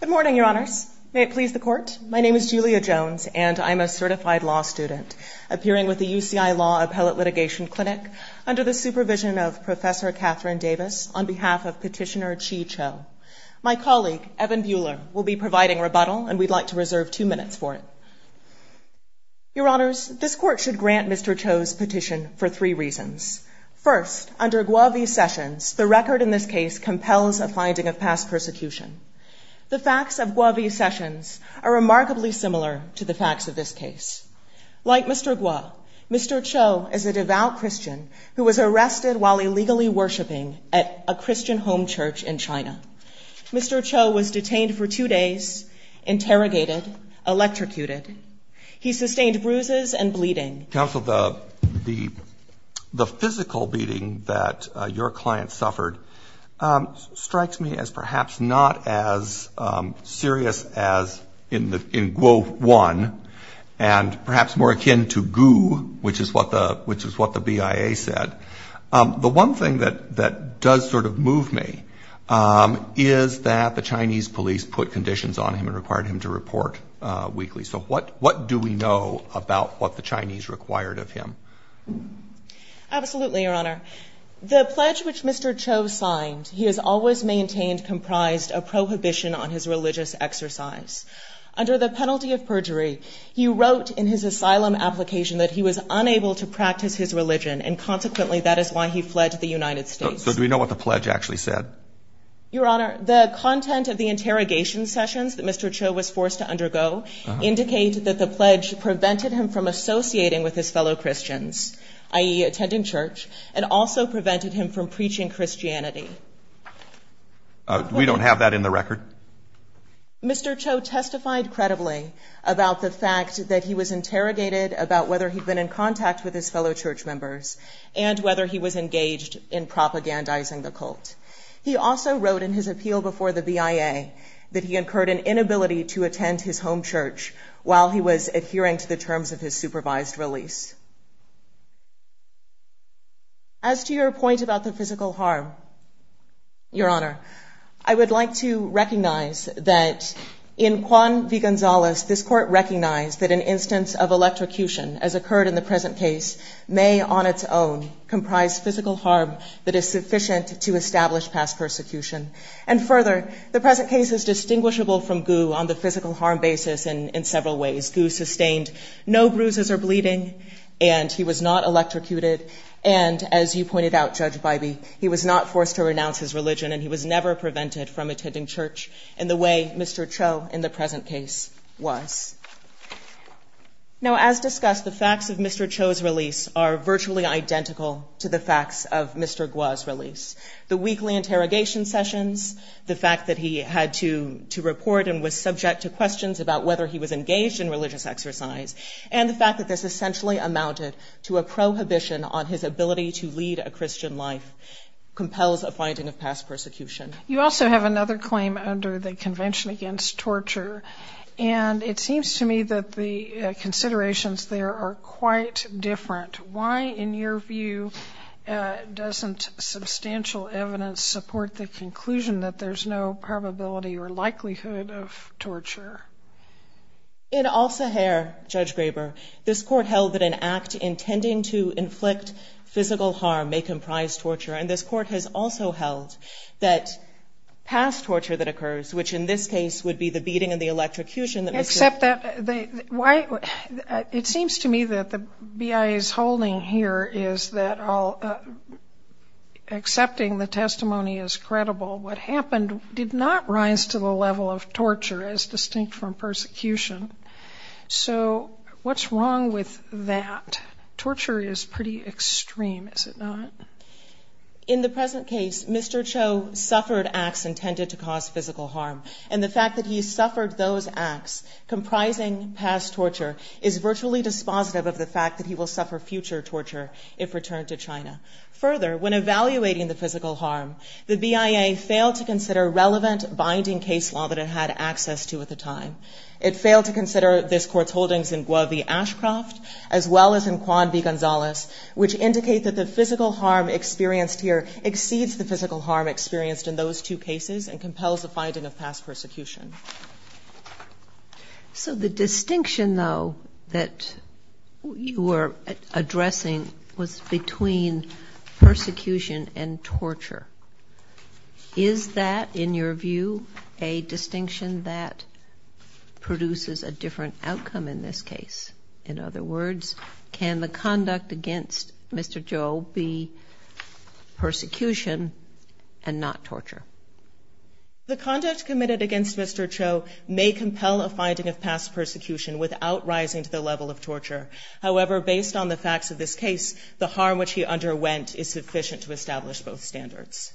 Good morning, your honors. May it please the court, my name is Julia Jones and I'm a certified law student appearing with the UCI Law Appellate Litigation Clinic under the supervision of Professor Catherine Davis on behalf of Petitioner Chi Cho. My colleague, Evan Buehler, will be providing rebuttal and we'd like to reserve two minutes for it. Your honors, this court should grant Mr. Cho's petition for three reasons. First, under Guo v. Sessions, the record in this case compels a finding of past persecution. The facts of Guo v. Sessions are remarkably similar to the facts of this case. Like Mr. Guo, Mr. Cho is a devout Christian who was arrested while illegally worshiping at a Christian home church in China. Mr. Cho was detained for two days, interrogated, electrocuted. He sustained bruises and bleeding. Counsel, the physical beating that your client suffered strikes me as perhaps not as serious as in Guo 1 and perhaps more akin to goo, which is what the BIA said. The one thing that does sort of move me is that the Chinese police put conditions on him and required him to report weekly. So what do we know about what the Chinese required of him? Absolutely, your honor. The pledge which Mr. Cho signed, he has always maintained, comprised a prohibition on his religious exercise. Under the penalty of perjury, he wrote in his asylum application that he was unable to practice his religion and consequently that is why he fled to the United States. So do we know what the pledge actually said? Your honor, the content of the interrogation sessions that Mr. Cho was forced to undergo indicate that the pledge prevented him from associating with his fellow Christians, i.e. attending church, and also prevented him from preaching Christianity. We don't have that in the record? Mr. Cho testified credibly about the fact that he was interrogated about whether he'd been in contact with his fellow church members and whether he was engaged in propagandizing the cult. He also wrote in his appeal before the BIA that he incurred an inability to attend his home church while he was adhering to the terms of his supervised release. As to your point about the physical harm, your honor, I would like to recognize that in Juan v. Gonzalez, this court recognized that an instance of electrocution, as occurred in the present case, may on its own comprise physical harm that is sufficient to establish past persecution. And further, the present case is distinguishable from Gu on the physical harm basis in several ways. Gu sustained no bruises or bleeding and he was not electrocuted and, as you pointed out, Judge Bybee, he was not forced to renounce his religion and he was never prevented from attending church in the way Mr. Cho in the present case was. Now, as discussed, the facts of Mr. Cho's release are virtually identical to the facts of Mr. Guo's release. The weekly interrogation sessions, the fact that he had to report and was subject to questions about whether he was engaged in religious exercise, and the fact that this essentially amounted to a prohibition on his ability to lead a Christian life compels a finding of past persecution. You also have another claim under the Convention Against Torture, and it seems to me that the considerations there are quite different. Why, in your view, doesn't substantial evidence support the conclusion that there's no probability or likelihood of torture? In Al-Sahir, Judge Graber, this Court held that an act intending to inflict physical harm may comprise torture, and this Court has also held that past torture that occurs, which in this case would be the beating and the electrocution that was served. It seems to me that the BIA's holding here is that, accepting the testimony as credible, what happened did not rise to the level of torture as distinct from persecution. So what's wrong with that? Torture is pretty extreme, is it not? In the present case, Mr. Cho suffered acts intended to cause physical harm, and the fact that he suffered those acts comprising past torture is virtually dispositive of the fact that he will suffer future torture if returned to China. So the distinction, though, that you are addressing was between persecution and torture. Is that, in your view, a distinction that produces a different outcome in this case? In other words, can the conduct against Mr. Cho be The conduct committed against Mr. Cho may compel a finding of past persecution without rising to the level of torture. However, based on the facts of this case, the harm which he underwent is sufficient to establish both standards.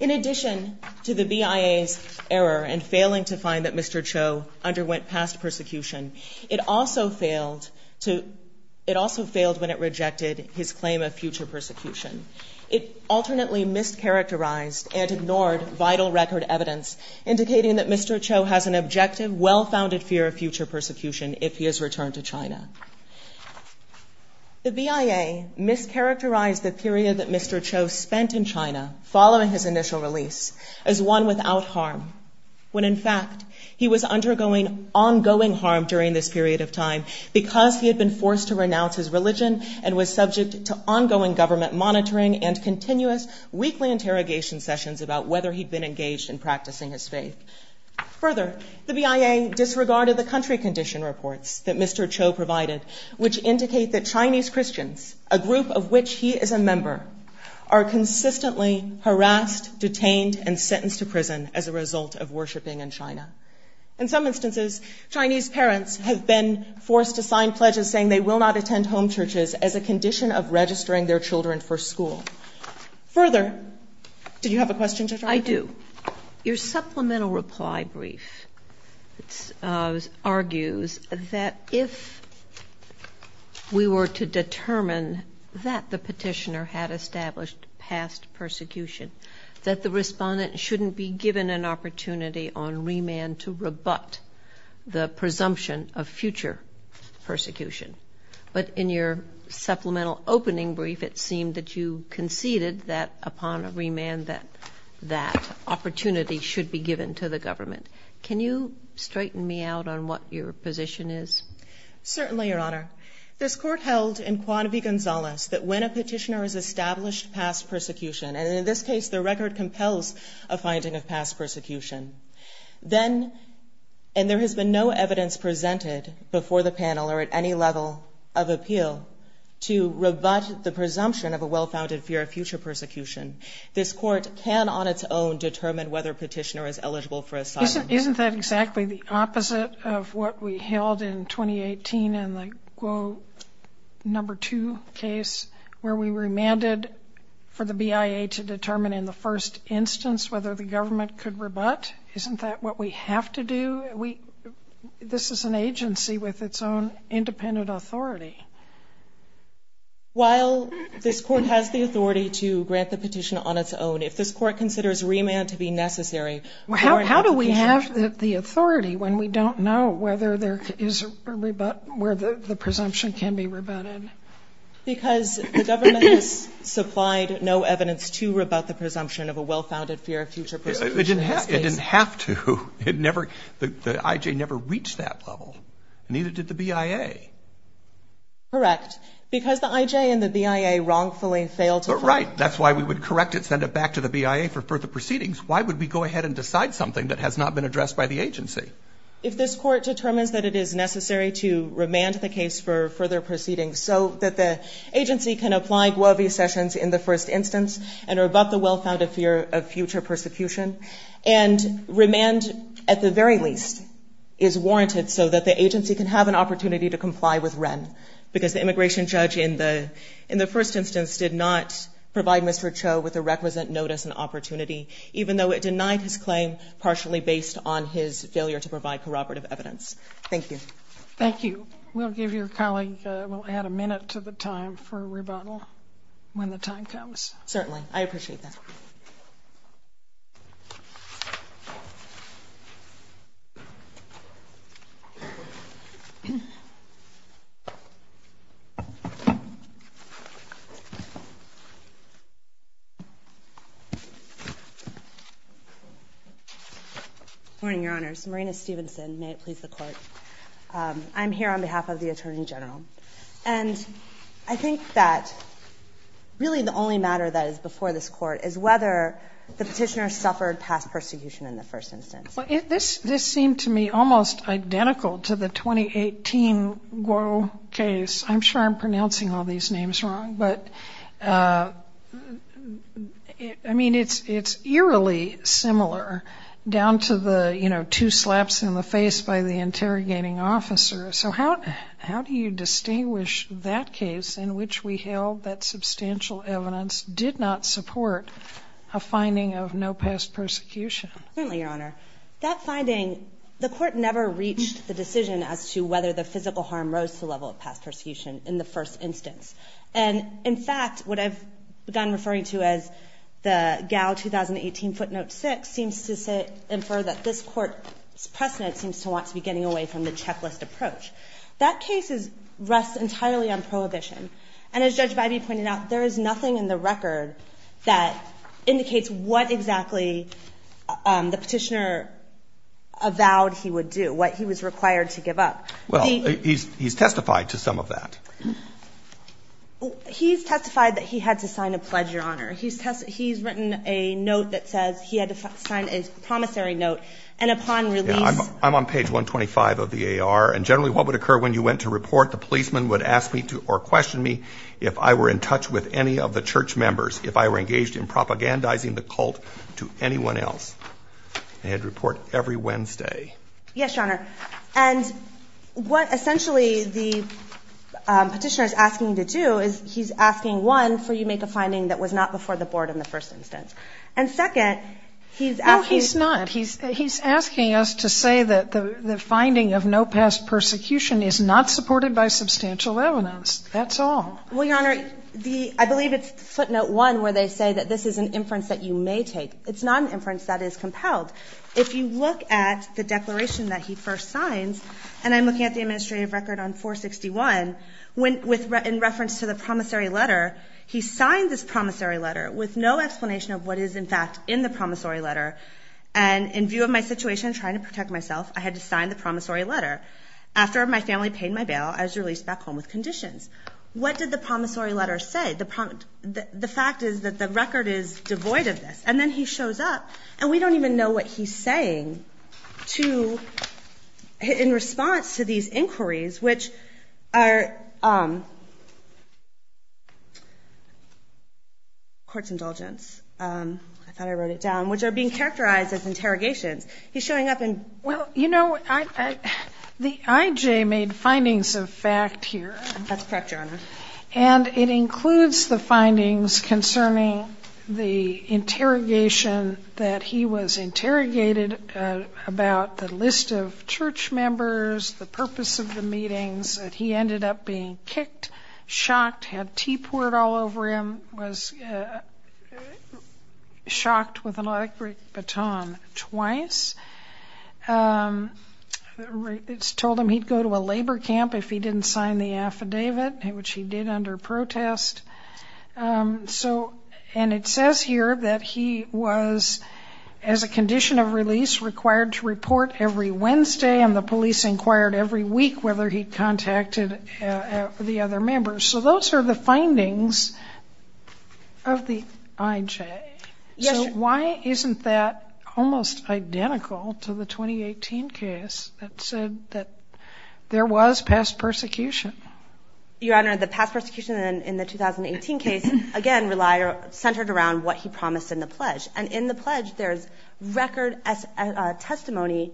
In addition to the BIA's error in failing to find that Mr. Cho underwent past persecution, it also failed when it rejected his claim of future persecution. It alternately mischaracterized and ignored vital record evidence indicating that Mr. Cho has an objective, well-founded fear of future persecution if he is returned to China. The BIA mischaracterized the period that Mr. Cho spent in China following his initial release as one without harm, when in fact he was undergoing ongoing harm during this period of time because he had been forced to renounce his religion and was subject to ongoing government monitoring and continuous weekly interrogation sessions about whether he'd been engaged in practicing his faith. Further, the BIA disregarded the country condition reports that Mr. Cho provided, which indicate that Chinese Christians, a group of which he is a member, are consistently harassed, detained, and sentenced to prison as a result of worshiping in China. In some instances, Chinese parents have been forced to sign pledges saying they will not attend home churches as a condition of registering their children for school. Further, did you have a question, Judge? I do. Your supplemental reply brief argues that if we were to determine that the petitioner had established past persecution, that the respondent shouldn't be given an opportunity on remand to rebut the presumption of future persecution. But in your supplemental opening brief, it seemed that you conceded that upon remand that that opportunity should be given to the government. Can you straighten me out on what your position is? Certainly, Your Honor. This Court held in Cuanvi-Gonzalez that when a petitioner has established past persecution, and in this case, the record compels a finding of past persecution, then, and there has been no evidence presented before the panel or at any level of the Court, that the petitioner has established past persecution. And in this case, there has been no evidence presented before the panel of appeal to rebut the presumption of a well-founded fear of future persecution. This Court can, on its own, determine whether a petitioner is eligible for asylum. Isn't that exactly the opposite of what we held in 2018 in the quote number two case where we remanded for the BIA to determine in the first instance whether the government could rebut? Isn't that what we have to do? This is an agency with its own independent authority. While this Court has the authority to grant the petition on its own, if this Court considers remand to be necessary for an application... How do we have the authority when we don't know whether there is a rebut, where the presumption can be rebutted? Because the government has supplied no evidence to rebut the presumption of a well-founded fear of future persecution in this case. It didn't have to. It never, the IJ never reached that level. And neither did the BIA. Correct. Because the IJ and the BIA wrongfully failed to... Right. That's why we would correct it, send it back to the BIA for further proceedings. Why would we go ahead and decide something that has not been addressed by the agency? If this Court determines that it is necessary to remand the case for further proceedings so that the agency can apply Guovi Sessions in the first instance and rebut the well-founded fear of future persecution, and remand at the very least is warranted so that the agency can have an opportunity to comply with Wren, because the immigration judge in the first instance did not provide Mr. Cho with a requisite notice and opportunity, even though it denied his claim partially based on his failure to provide corroborative evidence. Thank you. Thank you. We'll give your colleague, we'll add a minute to the time for rebuttal when the time comes. Certainly. I appreciate that. Morning, Your Honors. Marina Stevenson. May it please the Court. I'm here on behalf of the Attorney General. And I think that really the only matter that is before this Court is whether the petitioner suffered past persecution in the first instance. Well, this seemed to me almost identical to the 2018 Guo case. I'm sure I'm pronouncing all these names wrong, but I mean, it's eerily similar down to the, you know, two slaps in the face by the interrogating officer. So how do you distinguish that case in which we held that substantial evidence did not support a finding of no past persecution? Certainly, Your Honor. That finding, the Court never reached the decision as to whether the physical harm rose to the level of past persecution in the first instance. And in fact, what I've begun referring to as the Gao 2018 footnote 6 seems to infer that this Court's precedent seems to want to be getting away from the checklist approach. That case rests entirely on prohibition. And as Judge Bybee pointed out, there is nothing in the record that indicates what exactly the petitioner avowed he would do, what he was required to give up. Well, he's testified to some of that. He's testified that he had to sign a pledge, Your Honor. He's written a note that says he had to sign a promissory note. I'm on page 125 of the AR. And generally, what would occur when you went to report, the policeman would ask me or question me if I were in touch with any of the church members, if I were engaged in propagandizing the cult to anyone else. I had to report every Wednesday. Yes, Your Honor. And what essentially the petitioner is asking you to do is he's asking, one, for you to make a finding that was not before the board in the first instance. And second, he's asking you to say that the finding of no past persecution is not supported by substantial evidence. That's all. Well, Your Honor, I believe it's footnote 1 where they say that this is an inference that you may take. It's not an inference that is compelled. If you look at the declaration that he first signs, and I'm looking at the administrative record on 461, in reference to the promissory letter, he signed this promissory letter with no explanation of what is, in fact, in the promissory letter. And in view of my situation, trying to protect myself, I had to sign the promissory letter. After my family paid my bail, I was released back home with conditions. What did the promissory letter say? The fact is that the record is devoid of this. And then he shows up, and we don't even know what he's saying in response to these inquiries, which are... Court's indulgence. I thought I wrote it down. Which are being characterized as interrogations. He's showing up and... Well, you know, the I.J. made findings of fact here. That's correct, Your Honor. And it includes the findings concerning the interrogation that he was interrogated about the list of church members, the purpose of the meetings, that he ended up being kicked, shocked, had tea poured all over him, was shocked with an electric baton twice. It's told him he'd go to a labor camp if he didn't sign the affidavit, which he did under protest. And it says here that he was, as a condition of release, required to report every Wednesday, and the police inquired every week whether he'd contacted the other members. So those are the findings of the I.J. So why isn't that almost identical to the 2018 case that said that there was past persecution? Your Honor, the past persecution in the 2018 case, again, centered around what he promised in the pledge. And in the pledge, there's record testimony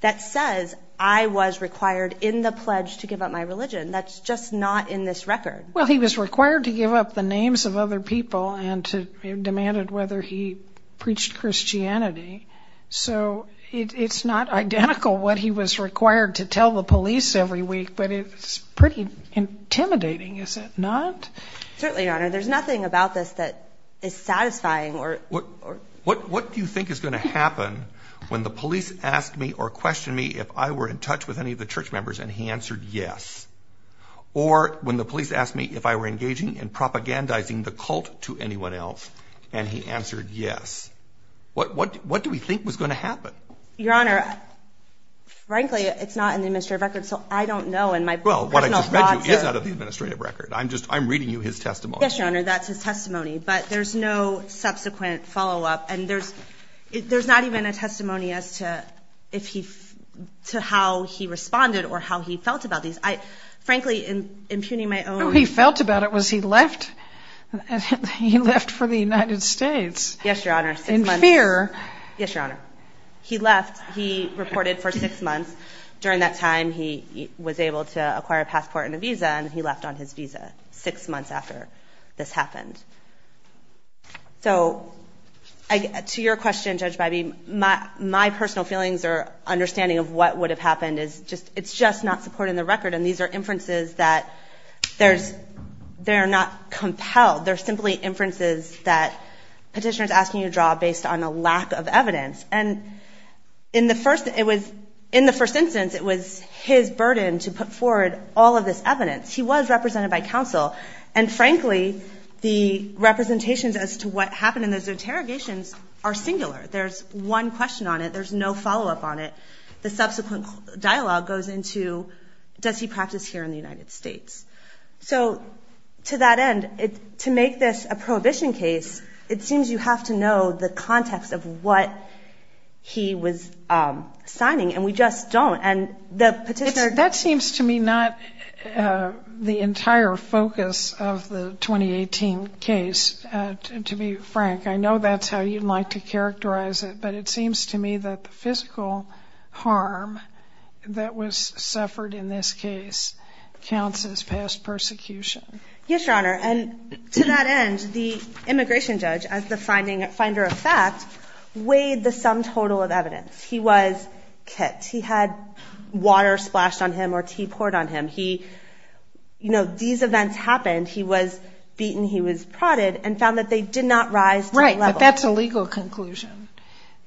that says, I was required in the pledge to give up my religion. That's just not in the I.J. Well, he was required to give up the names of other people and demanded whether he preached Christianity. So it's not identical what he was required to tell the police every week, but it's pretty intimidating, is it not? Certainly, Your Honor. There's nothing about this that is satisfying or... What do you think is going to happen when the police ask me or question me if I were in touch with any of the church members, and he answered yes? Or when the police ask me if I were engaging in propagandizing the cult to anyone else, and he answered yes? What do we think was going to happen? Your Honor, frankly, it's not in the administrative record, so I don't know. Well, what I just read you is out of the administrative record. I'm reading you his testimony. Yes, Your Honor, that's his testimony. But there's no subsequent follow-up, and there's not even a testimony as to how he responded or how he felt about these. Frankly, impugning my own... All he felt about it was he left. He left for the United States in fear. Yes, Your Honor. He left. He reported for six months. During that time, he was able to acquire a passport and a visa, and he left on his visa six months after. So, to your question, Judge Bybee, my personal feelings or understanding of what would have happened is just, it's just not supported in the record, and these are inferences that there's, they're not compelled. They're simply inferences that petitioner's asking you to draw based on a lack of evidence. And in the first, it was, in the first instance, it was his burden to put forward all of this evidence. He was represented by counsel, and frankly, it was his burden to put forward all of this evidence. And the representations as to what happened in those interrogations are singular. There's one question on it. There's no follow-up on it. The subsequent dialogue goes into, does he practice here in the United States? So, to that end, to make this a prohibition case, it seems you have to know the context of what he was signing, and we just don't. And the petitioner... That seems to me not the entire focus of the 2018 petition. It seems to me that the petitioner's question is, does he practice here in the United States? But, it seems to me that the 2018 case, to be frank, I know that's how you'd like to characterize it, but it seems to me that the physical harm that was suffered in this case counts as past persecution. Yes, Your Honor. And, to that end, the immigration judge, as the finding, finder of fact, weighed the sum total of evidence. He was kicked. He had water splashed on him or tea poured on him. He, you know, these events happened. He was beaten and he was prodded, and found that they did not rise to that level. Right, but that's a legal conclusion.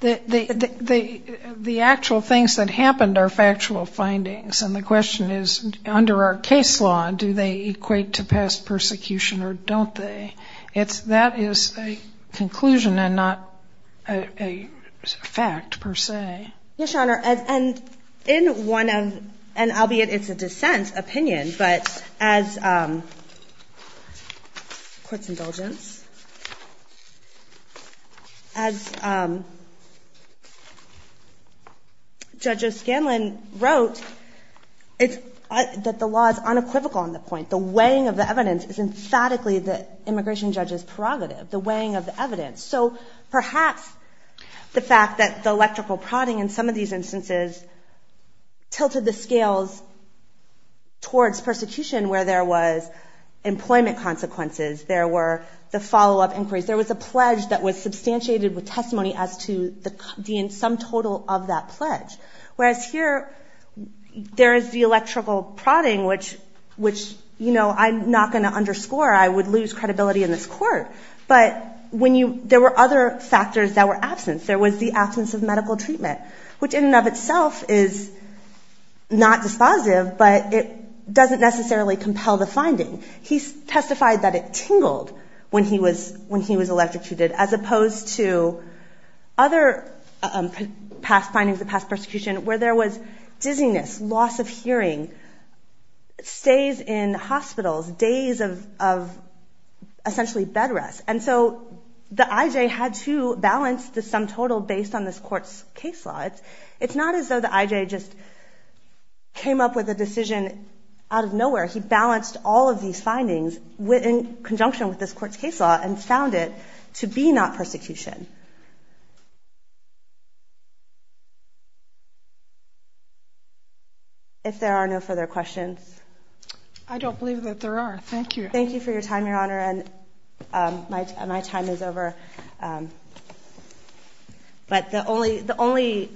The actual things that happened are factual findings, and the question is, under our case law, do they equate to past persecution or don't they? That is a conclusion and not a fact, per se. Yes, Your Honor. And, in one of, and albeit it's a dissent opinion, but, as, you know, as far as I'm concerned, the court's indulgence, as Judge O'Scanlan wrote, it's, that the law is unequivocal on the point. The weighing of the evidence is emphatically the immigration judge's prerogative. The weighing of the evidence. So, perhaps the fact that the electrical prodding in some of these instances tilted the scales towards persecution where there was employment consequences, there were the follow-up inquiries, there was a pledge that was substantiated with testimony as to the sum total of that pledge. Whereas here, there is the electrical prodding, which, you know, I'm not going to underscore. I would lose credibility in this court. But when you, there were other factors that were absent. There was the absence of medical treatment, which in and of itself is not dispositive, but it doesn't necessarily compel the finding. He testified that it tingled when he was, when he was electrocuted, as opposed to other past findings of past persecution where there was dizziness, loss of hearing, stays in hospitals, days of, of essentially bed rest. And so the IJ had to balance the sum total based on this court's case law. It's not as though the IJ just came up with a decision out of nowhere. He balanced all of these findings in conjunction with this court's case law and found it to be not persecution. If there are no further questions. I don't believe that there are. Thank you. Thank you for your time, Your Honor. And my, my time is over. But the only, the only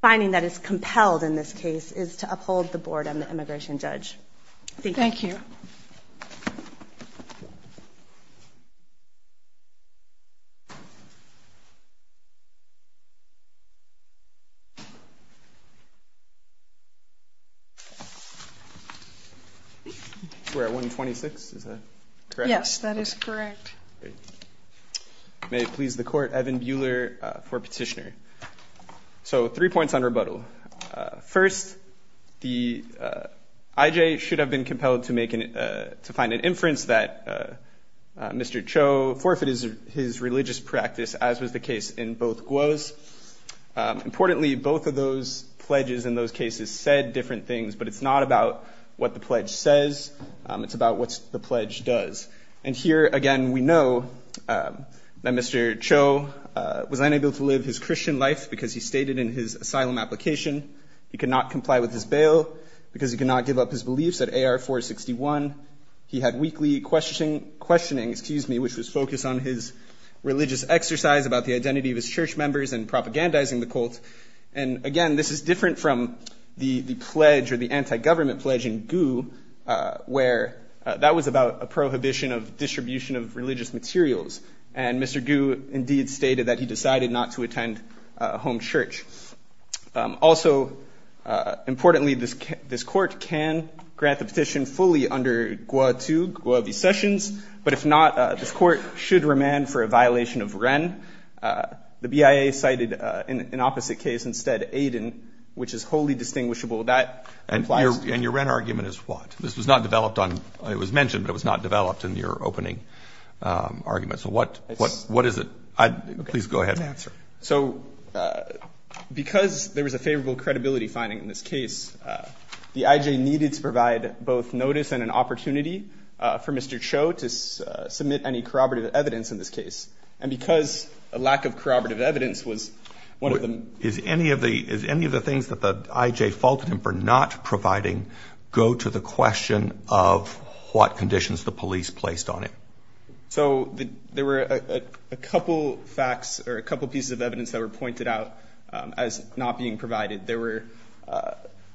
finding that is compelled in this case is to uphold the board and the immigration judge. Thank you. We're at 126. Is that correct? Yes, that is correct. May it please the court. Evan Buehler for petitioner. So three points on rebuttal. First, the IJ should have been compelled to make an, to find an inference that Mr. Cho forfeited his religious practice, as was the case in both Guos. Importantly, both of those pledges in those cases said different things, but it's not about what the pledge says. It's about what the pledge does. And here again, we know that Mr. Cho was unable to live his Christian life because he stated in his asylum application, he could not comply with his bail because he could not give up his beliefs at A.R. 461. He had weekly question, questioning, excuse me, which was focused on his religious exercise about the identity of his church members and propagandizing the cult. And again, this is different from the pledge or the anti-government pledge in Guos, where that was about a prohibition of distribution of religious materials. And Mr. Gu indeed stated that he decided not to attend a home church. Also, importantly, this this court can grant the petition fully under Guos to Guos v. Sessions. But if not, this court should remand for a violation of Wren. The BIA cited in an opposite case instead Aiden, which is wholly distinguishable. That implies and your argument is what this was not developed on. It was mentioned. It was not developed in your opening argument. So what what what is it? Please go ahead and answer. So because there was a favorable credibility finding in this case, the IJ needed to provide both notice and an opportunity for Mr. Cho to submit any corroborative evidence in this case. And because a lack of corroborative evidence was one of them. Is any of the is any of the things that the IJ faulted him for not providing go to the question of what conditions the police placed on it? So there were a couple facts or a couple pieces of evidence that were pointed out as not being provided. There were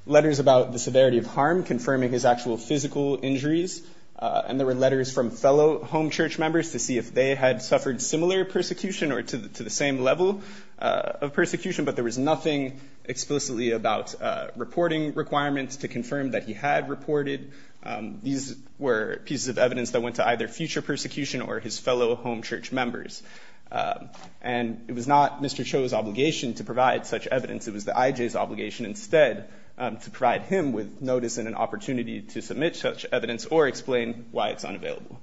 letters about the severity of harm, confirming his actual physical injuries. And there were letters from fellow home church members to see if they had suffered similar persecution or to the same level of persecution. But there was nothing explicitly about reporting requirements to confirm that he had reported. These were pieces of evidence that went to either future persecution or his fellow home church members. And it was not Mr. Cho's obligation to provide such evidence. It was the IJ's obligation instead to provide him with notice and an opportunity to submit such evidence or explain why it's unavailable.